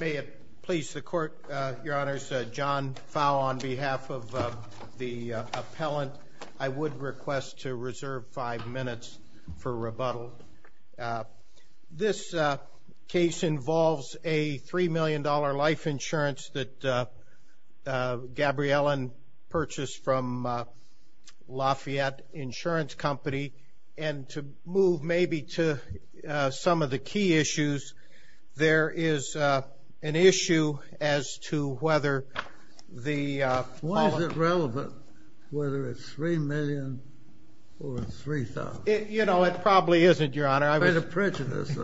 May it please the Court, Your Honors, John Fowle on behalf of the appellant. I would request to reserve five minutes for rebuttal. This case involves a $3 million life insurance that Gabrielian purchased from Lafayette Insurance Company. And to move maybe to some of the key issues, there is an issue as to whether the Why is it relevant whether it's $3 million or $3,000? You know, it probably isn't, Your Honor. I'm kind of prejudiced.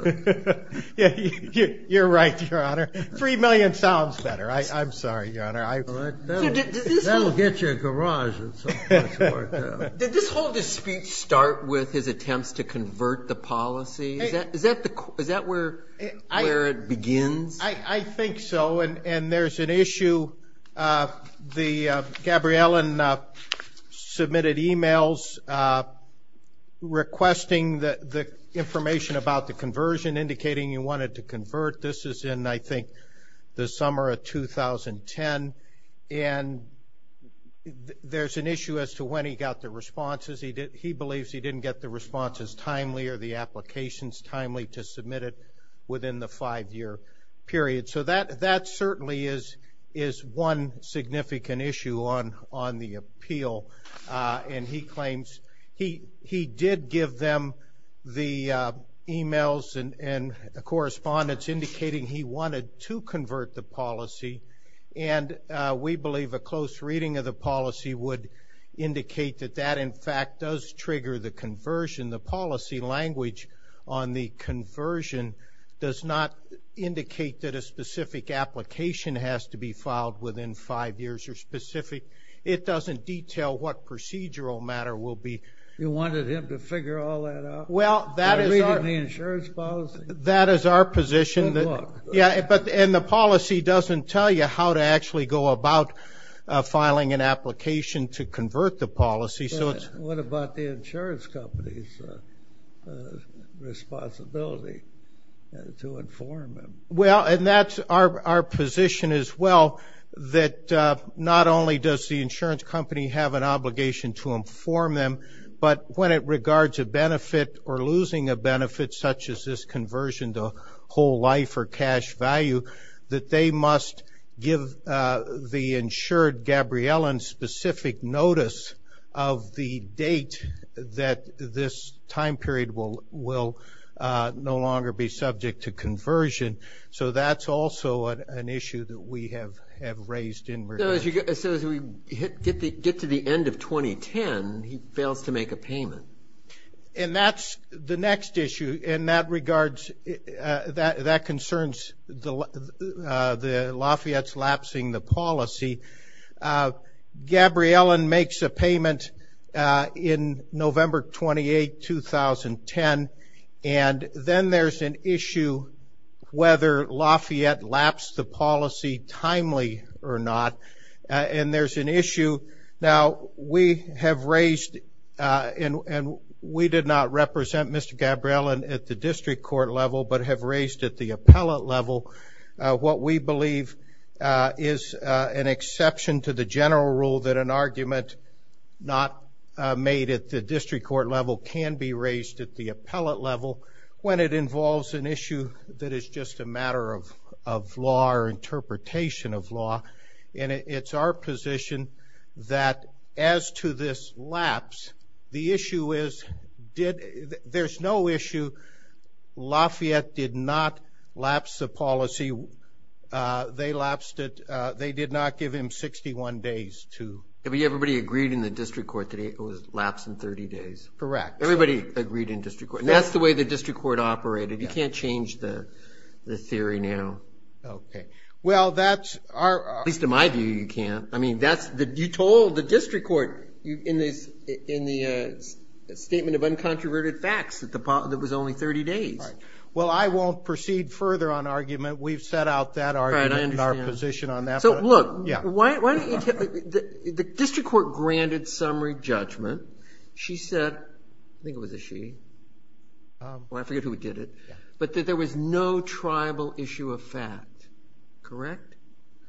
You're right, Your Honor. $3 million sounds better. I'm sorry, Your Honor. That'll get you a garage at some point. Did this whole dispute start with his attempts to convert the policy? Is that where it begins? I think so, and there's an issue. Gabrielian submitted e-mails requesting the information about the conversion, indicating he wanted to convert. This is in, I think, the summer of 2010. And there's an issue as to when he got the responses. He believes he didn't get the responses timely or the applications timely to submit it within the five-year period. So that certainly is one significant issue on the appeal. And he claims he did give them the e-mails and correspondence indicating he wanted to convert the policy. And we believe a close reading of the policy would indicate that that, in fact, does trigger the conversion. The policy language on the conversion does not indicate that a specific application has to be filed within five years or specific. It doesn't detail what procedural matter will be. You wanted him to figure all that out? Well, that is our position. And the policy doesn't tell you how to actually go about filing an application to convert the policy. What about the insurance company's responsibility to inform them? Well, and that's our position as well, that not only does the insurance company have an obligation to inform them, but when it regards a benefit or losing a benefit such as this conversion to whole life or cash value, that they must give the insured Gabriellen specific notice of the date that this time period will no longer be subject to conversion. So that's also an issue that we have raised in regard to. So as we get to the end of 2010, he fails to make a payment. And that's the next issue, and that concerns Lafayette's lapsing the policy. Gabriellen makes a payment in November 28, 2010, and then there's an issue whether Lafayette lapsed the policy timely or not, and there's an issue. Now, we have raised, and we did not represent Mr. Gabriellen at the district court level, but have raised at the appellate level what we believe is an exception to the general rule that an argument not made at the district court level can be raised at the appellate level when it involves an issue that is just a matter of law or interpretation of law. And it's our position that as to this lapse, the issue is there's no issue. Lafayette did not lapse the policy. They lapsed it. They did not give him 61 days to. Everybody agreed in the district court that it was lapsed in 30 days. Correct. Everybody agreed in district court. That's the way the district court operated. You can't change the theory now. Okay. Well, that's our. At least in my view, you can't. I mean, you told the district court in the statement of uncontroverted facts that it was only 30 days. Well, I won't proceed further on argument. We've set out that argument and our position on that. So, look, the district court granted summary judgment. She said, I think it was a she. I forget who did it. But that there was no tribal issue of fact. Correct?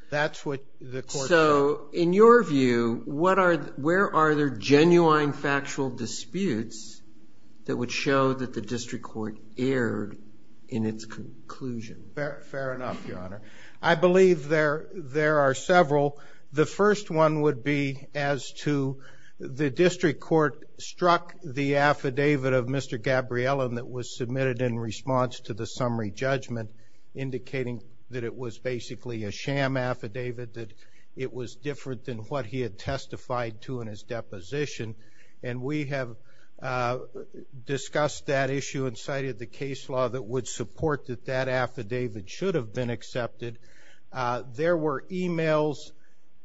That's what the court said. So, in your view, where are there genuine factual disputes that would show that the district court erred in its conclusion? Fair enough, Your Honor. I believe there are several. The first one would be as to the district court struck the affidavit of Mr. Gabriella that was submitted in response to the summary judgment, indicating that it was basically a sham affidavit, that it was different than what he had testified to in his deposition. And we have discussed that issue and cited the case law that would support that that affidavit should have been accepted. There were e-mails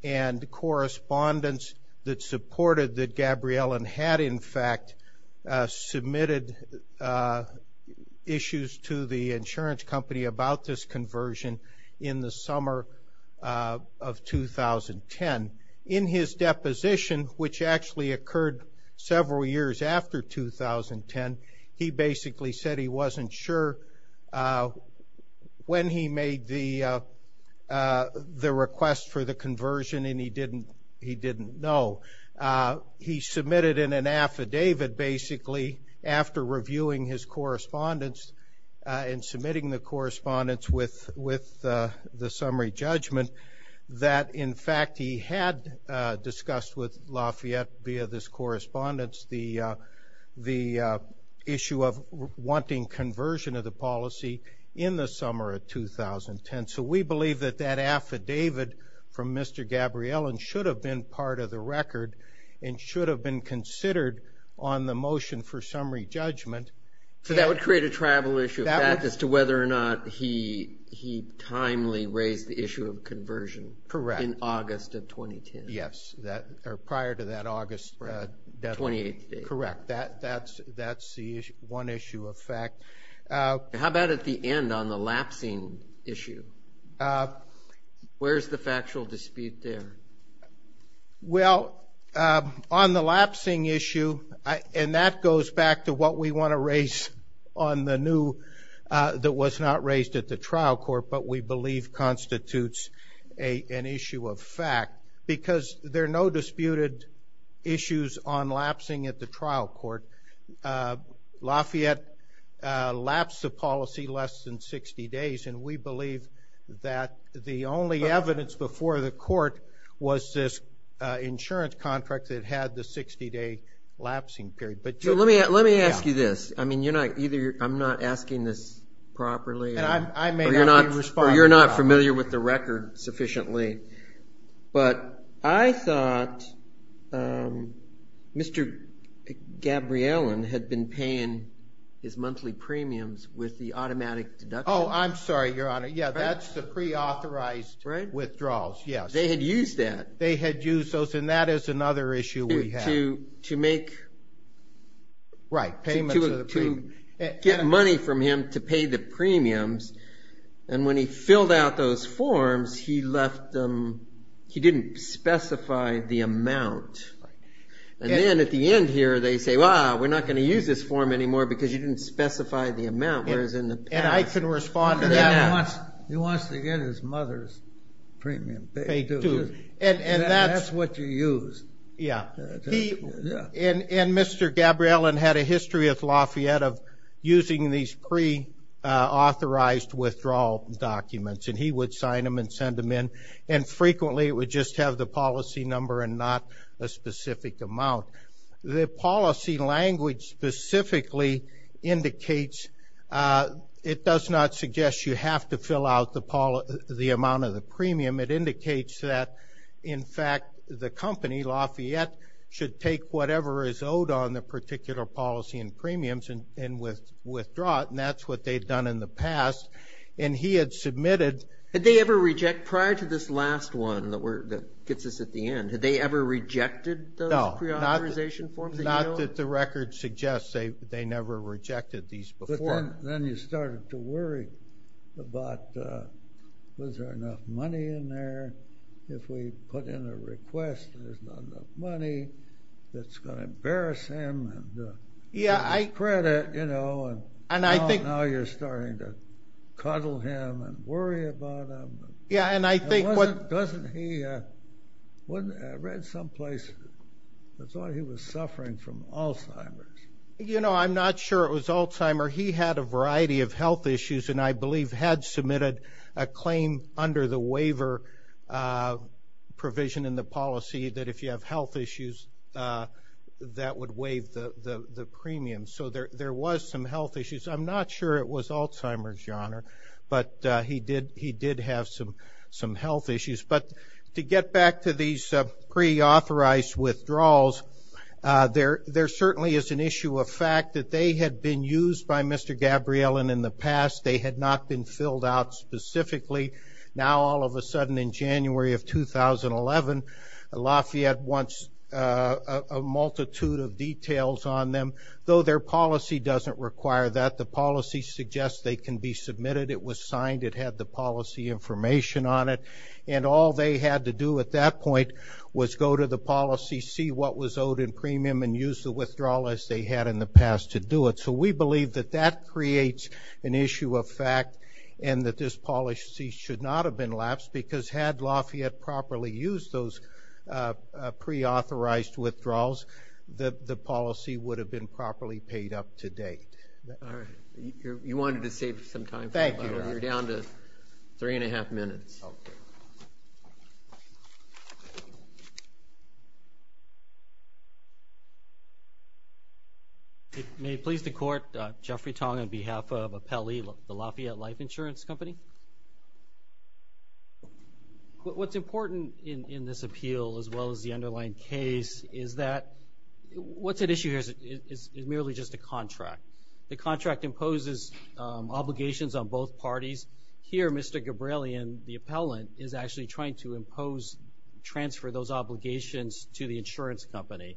and correspondence that supported that Gabriella had, in fact, submitted issues to the insurance company about this conversion in the summer of 2010. In his deposition, which actually occurred several years after 2010, he basically said he wasn't sure when he made the request for the conversion and he didn't know. He submitted in an affidavit, basically, after reviewing his correspondence and submitting the correspondence with the summary judgment that, in fact, he had discussed with Lafayette via this correspondence the issue of wanting conversion of the policy in the summer of 2010. So we believe that that affidavit from Mr. Gabriella should have been part of the record and should have been considered on the motion for summary judgment. So that would create a travel issue of fact as to whether or not he timely raised the issue of conversion. Correct. In August of 2010. Yes. Or prior to that August deadline. The 28th date. Correct. That's the one issue of fact. How about at the end on the lapsing issue? Where's the factual dispute there? Well, on the lapsing issue, and that goes back to what we want to raise on the new that was not raised at the trial court, but we believe constitutes an issue of fact because there are no disputed issues on lapsing at the trial court. Lafayette lapsed the policy less than 60 days, and we believe that the only evidence before the court was this insurance contract that had the 60-day lapsing period. Let me ask you this. I mean, I'm not asking this properly, or you're not familiar with the record sufficiently, but I thought Mr. Gabriellen had been paying his monthly premiums with the automatic deduction. Oh, I'm sorry, Your Honor. Yeah, that's the preauthorized withdrawals. Yes. They had used that. They had used those, and that is another issue we have. Right. To get money from him to pay the premiums, and when he filled out those forms, he didn't specify the amount. And then at the end here, they say, well, we're not going to use this form anymore because you didn't specify the amount. And I can respond to that. He wants to get his mother's premium. They do. And that's what you use. Yeah. And Mr. Gabriellen had a history with Lafayette of using these preauthorized withdrawal documents, and he would sign them and send them in, and frequently it would just have the policy number and not a specific amount. The policy language specifically indicates it does not suggest you have to fill out the amount of the premium. It indicates that, in fact, the company, Lafayette, should take whatever is owed on the particular policy and premiums and withdraw it, and that's what they've done in the past. And he had submitted – Had they ever rejected – prior to this last one that gets us at the end, had they ever rejected those preauthorization forms? No. Not that the record suggests they never rejected these before. Then you started to worry about, was there enough money in there? If we put in a request, there's not enough money. It's going to embarrass him and take the credit, you know, and now you're starting to cuddle him and worry about him. Yeah, and I think what – Doesn't he – I read someplace he was suffering from Alzheimer's. You know, I'm not sure it was Alzheimer. He had a variety of health issues and I believe had submitted a claim under the waiver provision in the policy that if you have health issues, that would waive the premium. So there was some health issues. I'm not sure it was Alzheimer's, Your Honor, but he did have some health issues. But to get back to these preauthorized withdrawals, there certainly is an issue of fact that they had been used by Mr. Gabriellen in the past. They had not been filled out specifically. Now all of a sudden in January of 2011, Lafayette wants a multitude of details on them, though their policy doesn't require that. The policy suggests they can be submitted. It was signed. It had the policy information on it. And all they had to do at that point was go to the policy, see what was owed in premium, and use the withdrawal as they had in the past to do it. So we believe that that creates an issue of fact and that this policy should not have been lapsed because had Lafayette properly used those preauthorized withdrawals, the policy would have been properly paid up to date. All right. You wanted to save some time. Thank you. You're down to three and a half minutes. Okay. May it please the Court, Jeffrey Tong on behalf of Appelli, the Lafayette Life Insurance Company. What's important in this appeal as well as the underlying case is that what's at issue here is merely just a contract. The contract imposes obligations on both parties. Here, Mr. Gabrielian, the appellant, is actually trying to impose, transfer those obligations to the insurance company.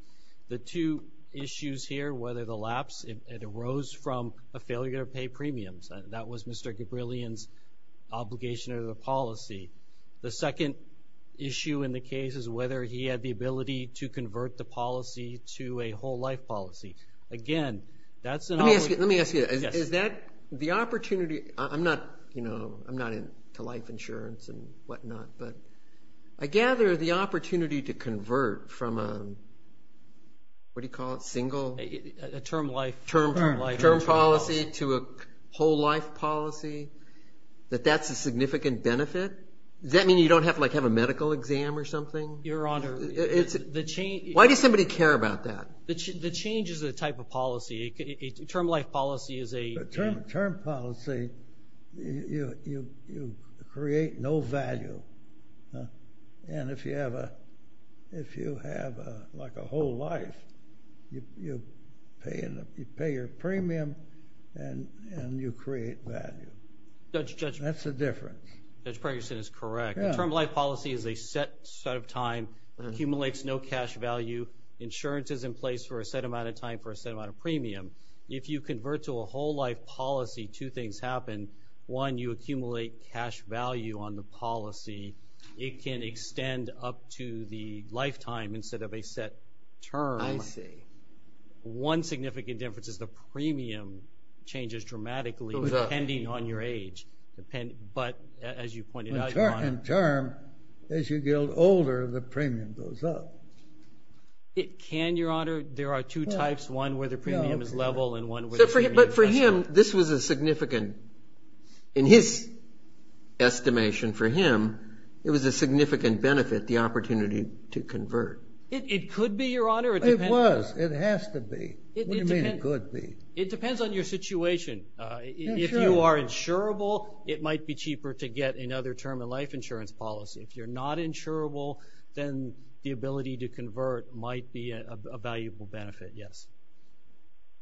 The two issues here, whether the lapse, it arose from a failure to pay premiums. That was Mr. Gabrielian's obligation to the policy. The second issue in the case is whether he had the ability to convert the policy to a whole life policy. Again, that's an obligation. Let me ask you. Is that the opportunity? I'm not into life insurance and whatnot, but I gather the opportunity to convert from a single term policy to a whole life policy, that that's a significant benefit? Does that mean you don't have to have a medical exam or something? Your Honor. Why does somebody care about that? The change is a type of policy. A term life policy is a- A term policy, you create no value. If you have a whole life, you pay your premium and you create value. That's the difference. Judge Pregerson is correct. A term life policy is a set set of time that accumulates no cash value. Insurance is in place for a set amount of time for a set amount of premium. If you convert to a whole life policy, two things happen. One, you accumulate cash value on the policy. It can extend up to the lifetime instead of a set term. I see. One significant difference is the premium changes dramatically- Goes up. Depending on your age. But as you pointed out, Your Honor- As you get older, the premium goes up. Can, Your Honor? There are two types, one where the premium is level and one where- But for him, this was a significant- In his estimation for him, it was a significant benefit, the opportunity to convert. It could be, Your Honor. It was. It has to be. What do you mean it could be? It depends on your situation. If you are insurable, it might be cheaper to get another term in life. It's a life insurance policy. If you're not insurable, then the ability to convert might be a valuable benefit, yes.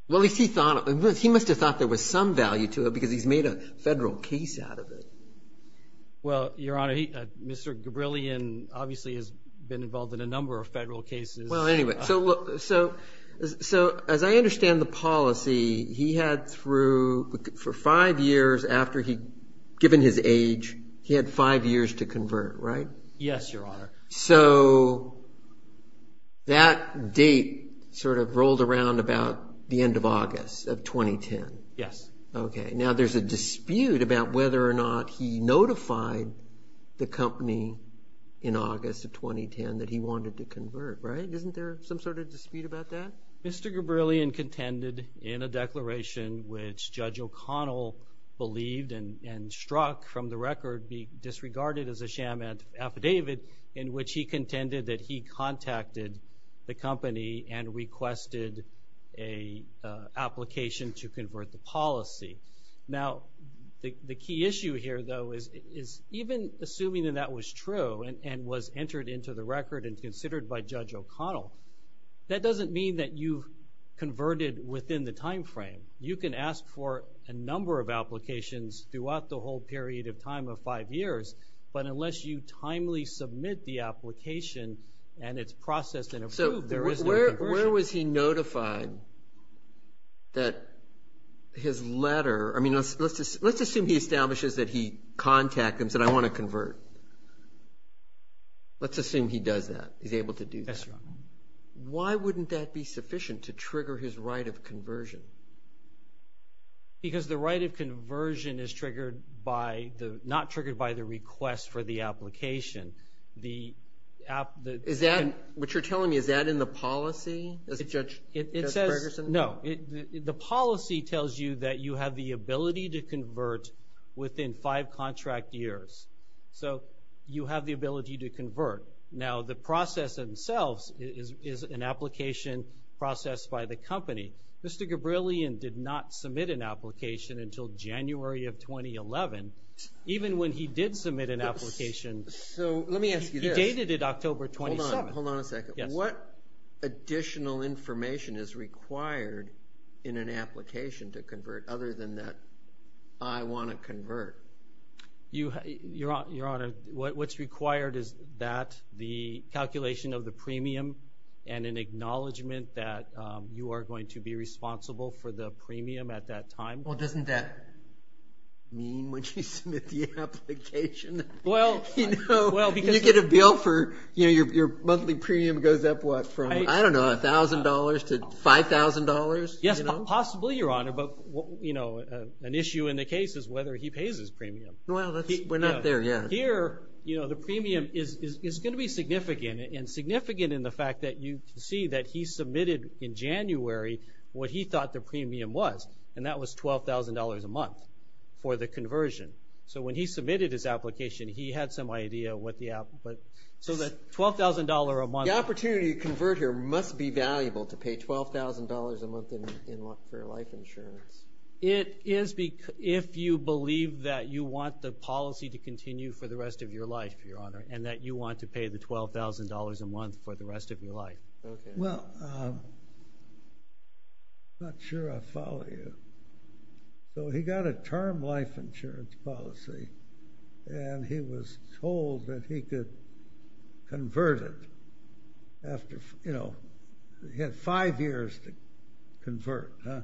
Well, if he thought- He must have thought there was some value to it because he's made a federal case out of it. Well, Your Honor, Mr. Gabrillion obviously has been involved in a number of federal cases. Well, anyway, so as I understand the policy, he had through- given his age, he had five years to convert, right? Yes, Your Honor. So that date sort of rolled around about the end of August of 2010? Yes. Okay. Now, there's a dispute about whether or not he notified the company in August of 2010 that he wanted to convert, right? Isn't there some sort of dispute about that? Mr. Gabrillion contended in a declaration, which Judge O'Connell believed and struck from the record, be disregarded as a sham affidavit in which he contended that he contacted the company and requested an application to convert the policy. Now, the key issue here, though, is even assuming that that was true and was entered into the record and considered by Judge O'Connell, that doesn't mean that you converted within the time frame. You can ask for a number of applications throughout the whole period of time of five years, but unless you timely submit the application and it's processed in a group, there is no conversion. So where was he notified that his letter-I mean, let's assume he establishes that he contacted and said, I want to convert. Let's assume he does that. He's able to do that. That's right. Why wouldn't that be sufficient to trigger his right of conversion? Because the right of conversion is not triggered by the request for the application. What you're telling me, is that in the policy, Judge Ferguson? No. The policy tells you that you have the ability to convert within five contract years. So you have the ability to convert. Now, the process themselves is an application processed by the company. Mr. Gabrielian did not submit an application until January of 2011. Even when he did submit an application, he dated it October 27th. Hold on a second. What additional information is required in an application to convert other than that I want to convert? Your Honor, what's required is that the calculation of the premium and an acknowledgement that you are going to be responsible for the premium at that time. Well, doesn't that mean when you submit the application, you get a bill for your monthly premium goes up, what, from, I don't know, $1,000 to $5,000? Yes, possibly, Your Honor. But, you know, an issue in the case is whether he pays his premium. Well, we're not there yet. Here, you know, the premium is going to be significant. And significant in the fact that you can see that he submitted in January what he thought the premium was. And that was $12,000 a month for the conversion. So when he submitted his application, he had some idea what the – so that $12,000 a month. The opportunity to convert here must be valuable to pay $12,000 a month for life insurance. It is if you believe that you want the policy to continue for the rest of your life, Your Honor, and that you want to pay the $12,000 a month for the rest of your life. Well, I'm not sure I follow you. So he got a term life insurance policy, and he was told that he could convert it after, you know, he had five years to convert, huh?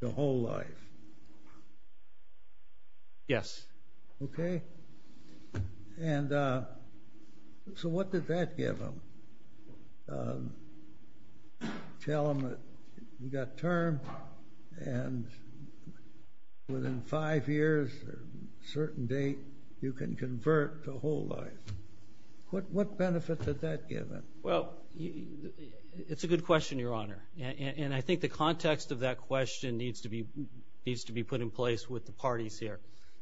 The whole life. Yes. Okay. And so what did that give him? Tell him that you got a term, and within five years, a certain date, you can convert the whole life. What benefits did that give him? Well, it's a good question, Your Honor. And I think the context of that question needs to be put in place with the parties here.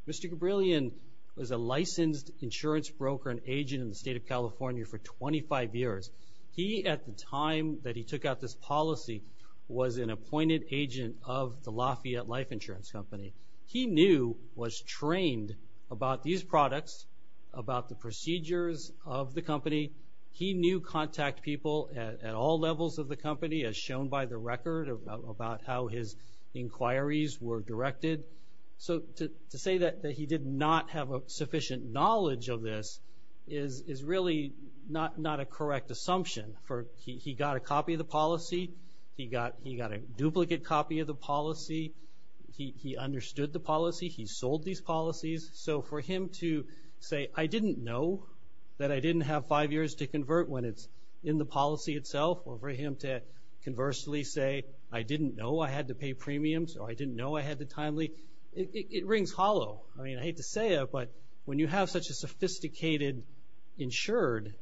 Mr. Gabrielian was a licensed insurance broker and agent in the state of California for 25 years. He, at the time that he took out this policy, was an appointed agent of the Lafayette Life Insurance Company. He knew, was trained about these products, about the procedures of the company. He knew contact people at all levels of the company, as shown by the record about how his inquiries were directed. So to say that he did not have a sufficient knowledge of this is really not a correct assumption. He got a copy of the policy. He got a duplicate copy of the policy. He understood the policy. He sold these policies. So for him to say, I didn't know that I didn't have five years to convert when it's in the policy itself, or for him to conversely say, I didn't know I had to pay premiums, or I didn't know I had the timely, it rings hollow. I mean, I hate to say it, but when you have such a sophisticated insured,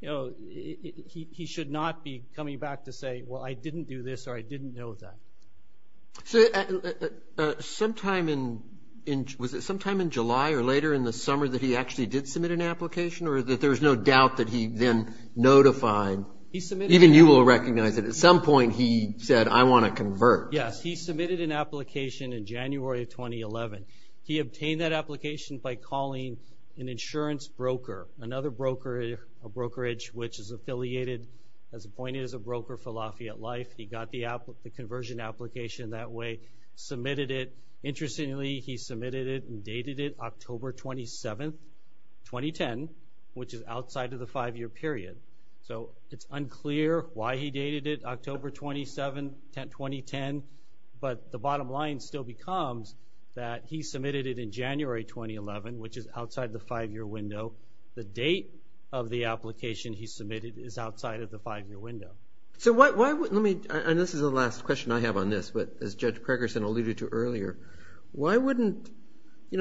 he should not be coming back to say, well, I didn't do this or I didn't know that. So sometime in July or later in the summer that he actually did submit an application, or that there's no doubt that he then notified, even you will recognize it, at some point he said, I want to convert. Yes, he submitted an application in January of 2011. He obtained that application by calling an insurance broker, another broker, a brokerage, which is affiliated as appointed as a broker for Lafayette Life. He got the conversion application that way, submitted it. He submitted it and dated it October 27th, 2010, which is outside of the five-year period. So it's unclear why he dated it October 27th, 2010, but the bottom line still becomes that he submitted it in January 2011, which is outside the five-year window. The date of the application he submitted is outside of the five-year window. This is the last question I have on this, but as Judge Pregerson alluded to earlier, why wouldn't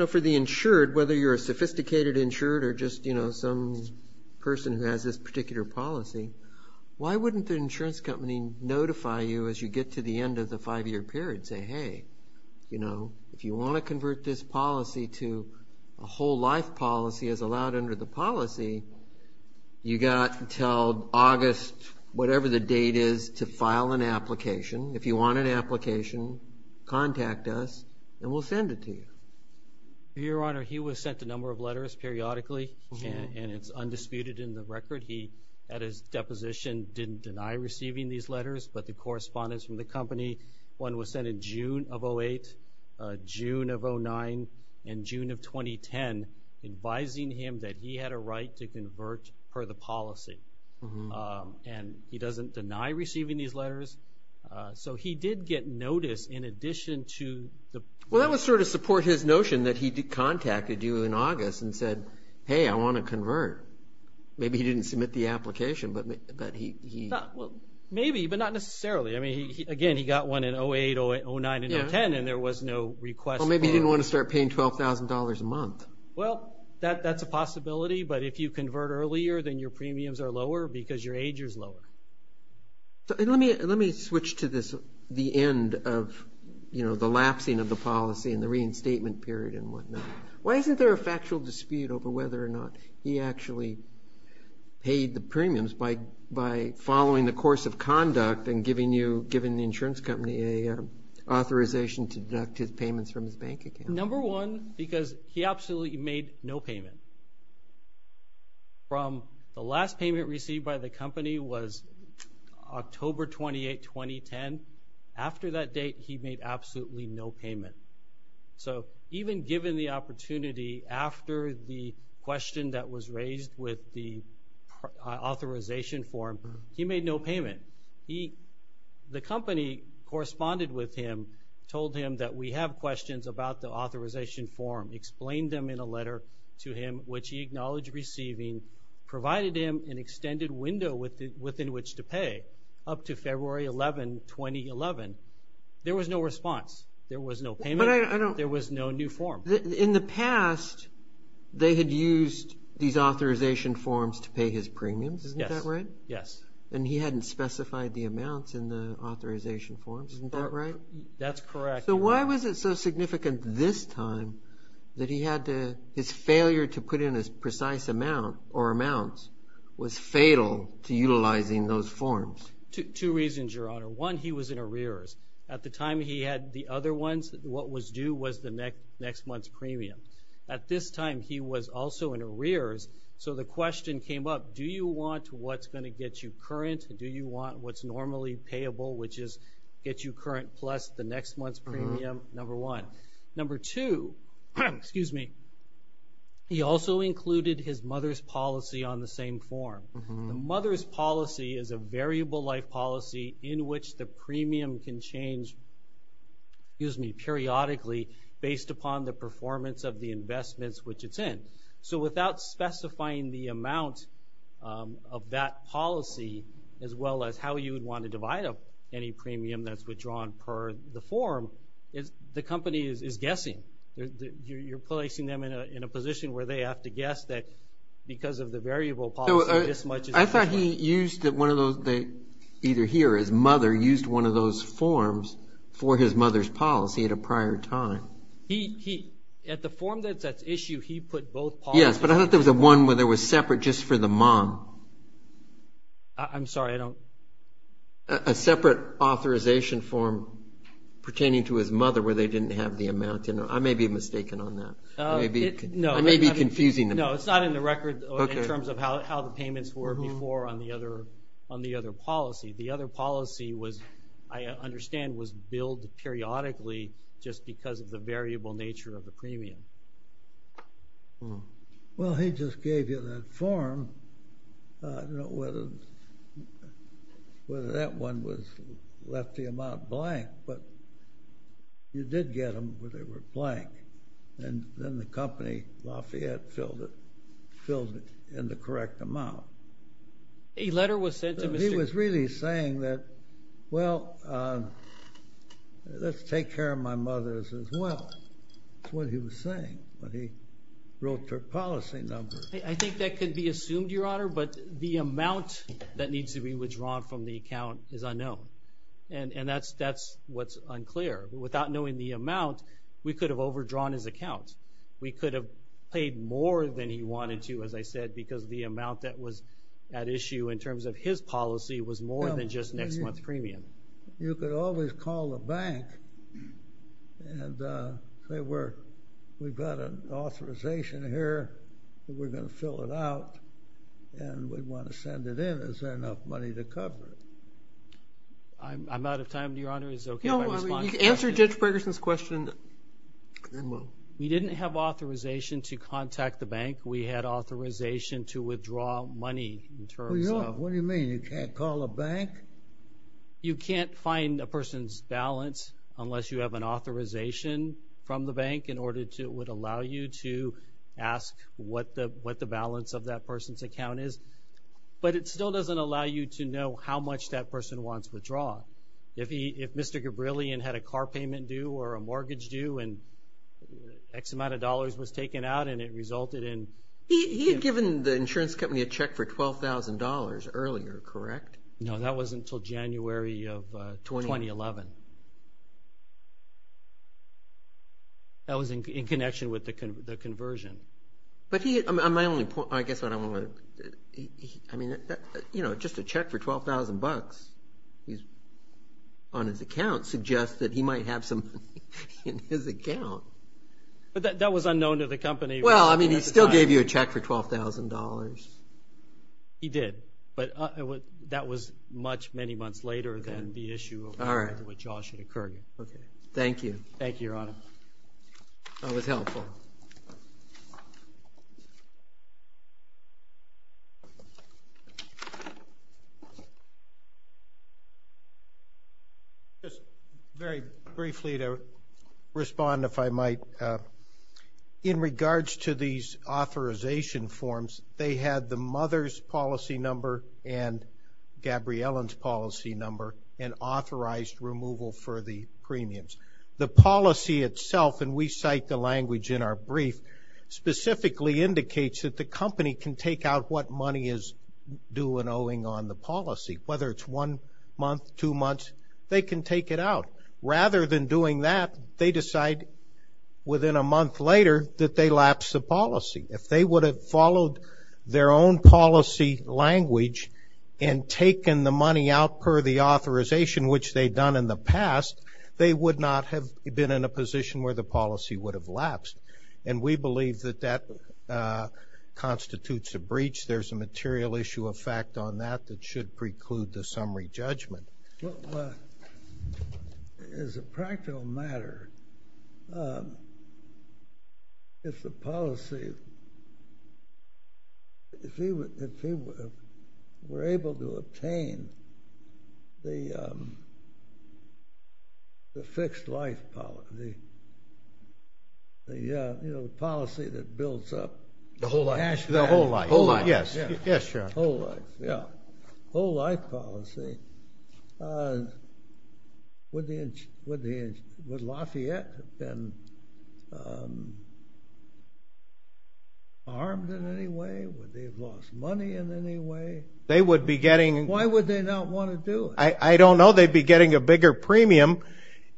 for the insured, whether you're a sophisticated insured or just some person who has this particular policy, why wouldn't the insurance company notify you as you get to the end of the five-year period, say, hey, if you want to convert this policy to a whole life policy as allowed under the policy, you've got until August, whatever the date is, to file an application. If you want an application, contact us, and we'll send it to you. Your Honor, he was sent a number of letters periodically, and it's undisputed in the record. He, at his deposition, didn't deny receiving these letters, but the correspondence from the company, one was sent in June of 2008, June of 2009, and June of 2010, advising him that he had a right to convert per the policy, and he doesn't deny receiving these letters. So he did get notice in addition to the – Well, that would sort of support his notion that he contacted you in August and said, hey, I want to convert. Maybe he didn't submit the application, but he – Well, maybe, but not necessarily. I mean, again, he got one in 2008, 2009, and 2010, and there was no request for – Well, maybe he didn't want to start paying $12,000 a month. Well, that's a possibility, but if you convert earlier, then your premiums are lower because your age is lower. Let me switch to the end of the lapsing of the policy and the reinstatement period and whatnot. Why isn't there a factual dispute over whether or not he actually paid the premiums by following the course of conduct and giving the insurance company an authorization to deduct his payments from his bank account? Number one, because he absolutely made no payment. From the last payment received by the company was October 28, 2010. After that date, he made absolutely no payment. So even given the opportunity after the question that was raised with the authorization form, he made no payment. The company corresponded with him, told him that we have questions about the authorization form, explained them in a letter to him, which he acknowledged receiving, provided him an extended window within which to pay up to February 11, 2011. There was no response. There was no payment. There was no new form. In the past, they had used these authorization forms to pay his premiums. Isn't that right? Yes. And he hadn't specified the amounts in the authorization forms. Isn't that right? That's correct. So why was it so significant this time that his failure to put in a precise amount or amounts was fatal to utilizing those forms? Two reasons, Your Honor. One, he was in arrears. At the time he had the other ones, what was due was the next month's premium. At this time, he was also in arrears, so the question came up, do you want what's going to get you current? Do you want what's normally payable, which is get you current plus the next month's premium, number one. Number two, he also included his mother's policy on the same form. The mother's policy is a variable-like policy in which the premium can change, excuse me, periodically based upon the performance of the investments which it's in. So without specifying the amount of that policy as well as how you would want to divide up any premium that's withdrawn per the form, the company is guessing. You're placing them in a position where they have to guess that because of the variable policy this much is withdrawn. I thought he used one of those, either here or his mother, used one of those forms for his mother's policy at a prior time. He, at the form that's at issue, he put both policies. Yes, but I thought there was one where they were separate just for the mom. I'm sorry, I don't. A separate authorization form pertaining to his mother where they didn't have the amount. I may be mistaken on that. I may be confusing them. No, it's not in the record in terms of how the payments were before on the other policy. The other policy was, I understand, was billed periodically just because of the variable nature of the premium. Well, he just gave you that form. I don't know whether that one left the amount blank, but you did get them, but they were blank. And then the company, Lafayette, filled it in the correct amount. A letter was sent to Mr. He was really saying that, well, let's take care of my mother's as well. That's what he was saying when he wrote her policy number. I think that could be assumed, Your Honor, but the amount that needs to be withdrawn from the account is unknown. And that's what's unclear. Without knowing the amount, we could have overdrawn his account. We could have paid more than he wanted to, as I said, because the amount that was at issue in terms of his policy was more than just next month's premium. You could always call the bank and say, we've got an authorization here, and we're going to fill it out, and we want to send it in. Is there enough money to cover it? I'm out of time, Your Honor. Is it okay if I respond to that? No, I mean, you can answer Judge Ferguson's question. We didn't have authorization to contact the bank. We had authorization to withdraw money. What do you mean? You can't call a bank? You can't find a person's balance unless you have an authorization from the bank in order to allow you to ask what the balance of that person's account is. But it still doesn't allow you to know how much that person wants withdrawn. If Mr. Gabrillion had a car payment due or a mortgage due and X amount of dollars was taken out and it resulted in ---- He had given the insurance company a check for $12,000 earlier, correct? No, that was until January of 2011. That was in connection with the conversion. My only point, I guess what I want to ---- I mean, just a check for $12,000 on his account suggests that he might have some money in his account. But that was unknown to the company. Well, I mean, he still gave you a check for $12,000. He did, but that was much, many months later than the issue of what should have occurred. Thank you. Thank you, Your Honor. That was helpful. Just very briefly to respond, if I might. In regards to these authorization forms, they had the mother's policy number and Gabrillion's policy number and authorized removal for the premiums. The policy itself, and we cite the language in our brief, specifically indicates that the company can take out what money is due and owing on the policy, whether it's one month, two months, they can take it out. Rather than doing that, they decide within a month later that they lapse the policy. If they would have followed their own policy language and taken the money out per the authorization, which they'd done in the past, they would not have been in a position where the policy would have lapsed. And we believe that that constitutes a breach. There's a material issue of fact on that that should preclude the summary judgment. Well, as a practical matter, if the policy, if we were able to obtain the fixed life policy, you know, the policy that builds up. The whole life. The whole life. The whole life, yes. Yes, Your Honor. The whole life, yes. The whole life policy. Would Lafayette have been armed in any way? Would they have lost money in any way? They would be getting. Why would they not want to do it? I don't know. They'd be getting a bigger premium.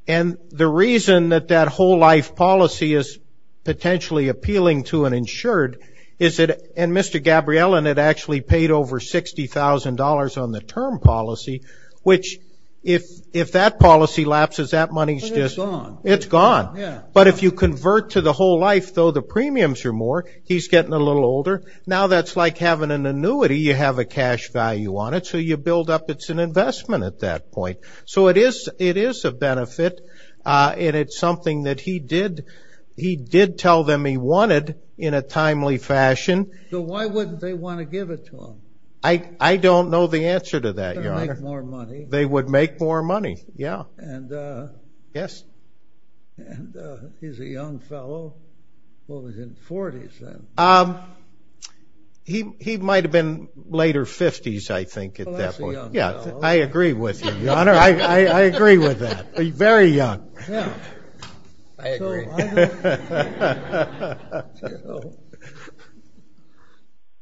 And the reason that that whole life policy is potentially appealing to an insured is that, and Mr. Gabriellen had actually paid over $60,000 on the term policy, which if that policy lapses, that money is just gone. It's gone. But if you convert to the whole life, though, the premiums are more. He's getting a little older. Now that's like having an annuity. You have a cash value on it, so you build up. It's an investment at that point. So it is a benefit. And it's something that he did tell them he wanted in a timely fashion. So why wouldn't they want to give it to him? I don't know the answer to that, Your Honor. To make more money. They would make more money, yeah. And he's a young fellow. Well, he's in his 40s then. He might have been later 50s, I think, at that point. Yeah, I agree with you, Your Honor. I agree with that. He's very young. Yeah. I agree.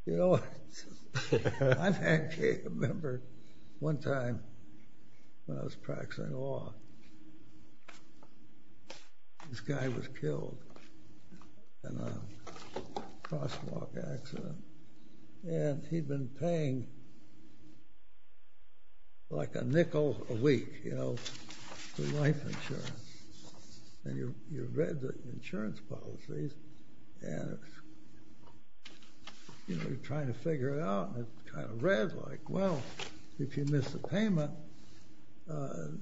You know, I actually remember one time when I was practicing law. This guy was killed in a crosswalk accident. And he'd been paying like a nickel a week, you know, for life insurance. And you read the insurance policies. And, you know, you're trying to figure it out. And it kind of read like, well, if you miss a payment, the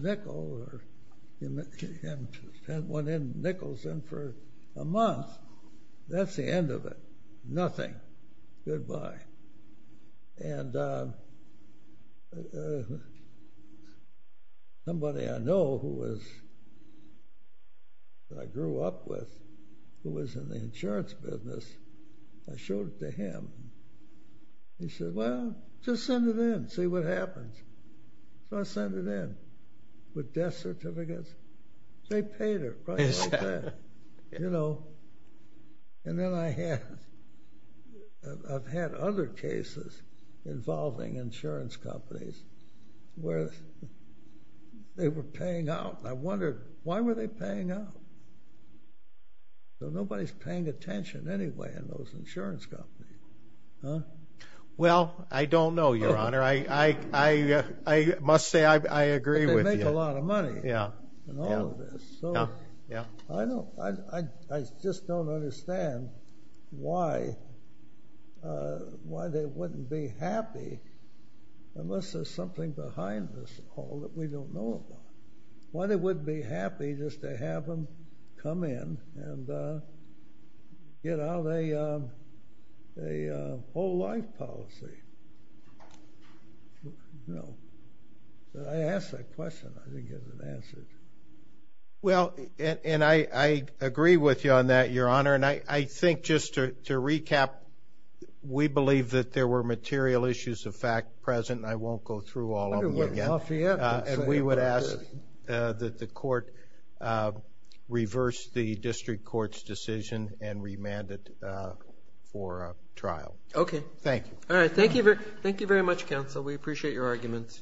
nickel, or you haven't sent one in nickels in for a month, that's the end of it. Nothing. Goodbye. And somebody I know who I grew up with who was in the insurance business, I showed it to him. He said, well, just send it in. See what happens. So I sent it in with death certificates. They paid it right like that, you know. And then I've had other cases involving insurance companies where they were paying out. And I wondered, why were they paying out? Nobody's paying attention anyway in those insurance companies. Well, I don't know, Your Honor. I must say I agree with you. It's a lot of money and all of this. I just don't understand why they wouldn't be happy unless there's something behind this all that we don't know about. Why they wouldn't be happy just to have them come in and get out a whole life policy. No. I asked that question. I didn't get an answer. Well, and I agree with you on that, Your Honor. And I think just to recap, we believe that there were material issues of fact present, and I won't go through all of them again. And we would ask that the court reverse the district court's decision and remand it for trial. Okay. Thank you. All right. Thank you very much, counsel. We appreciate your arguments.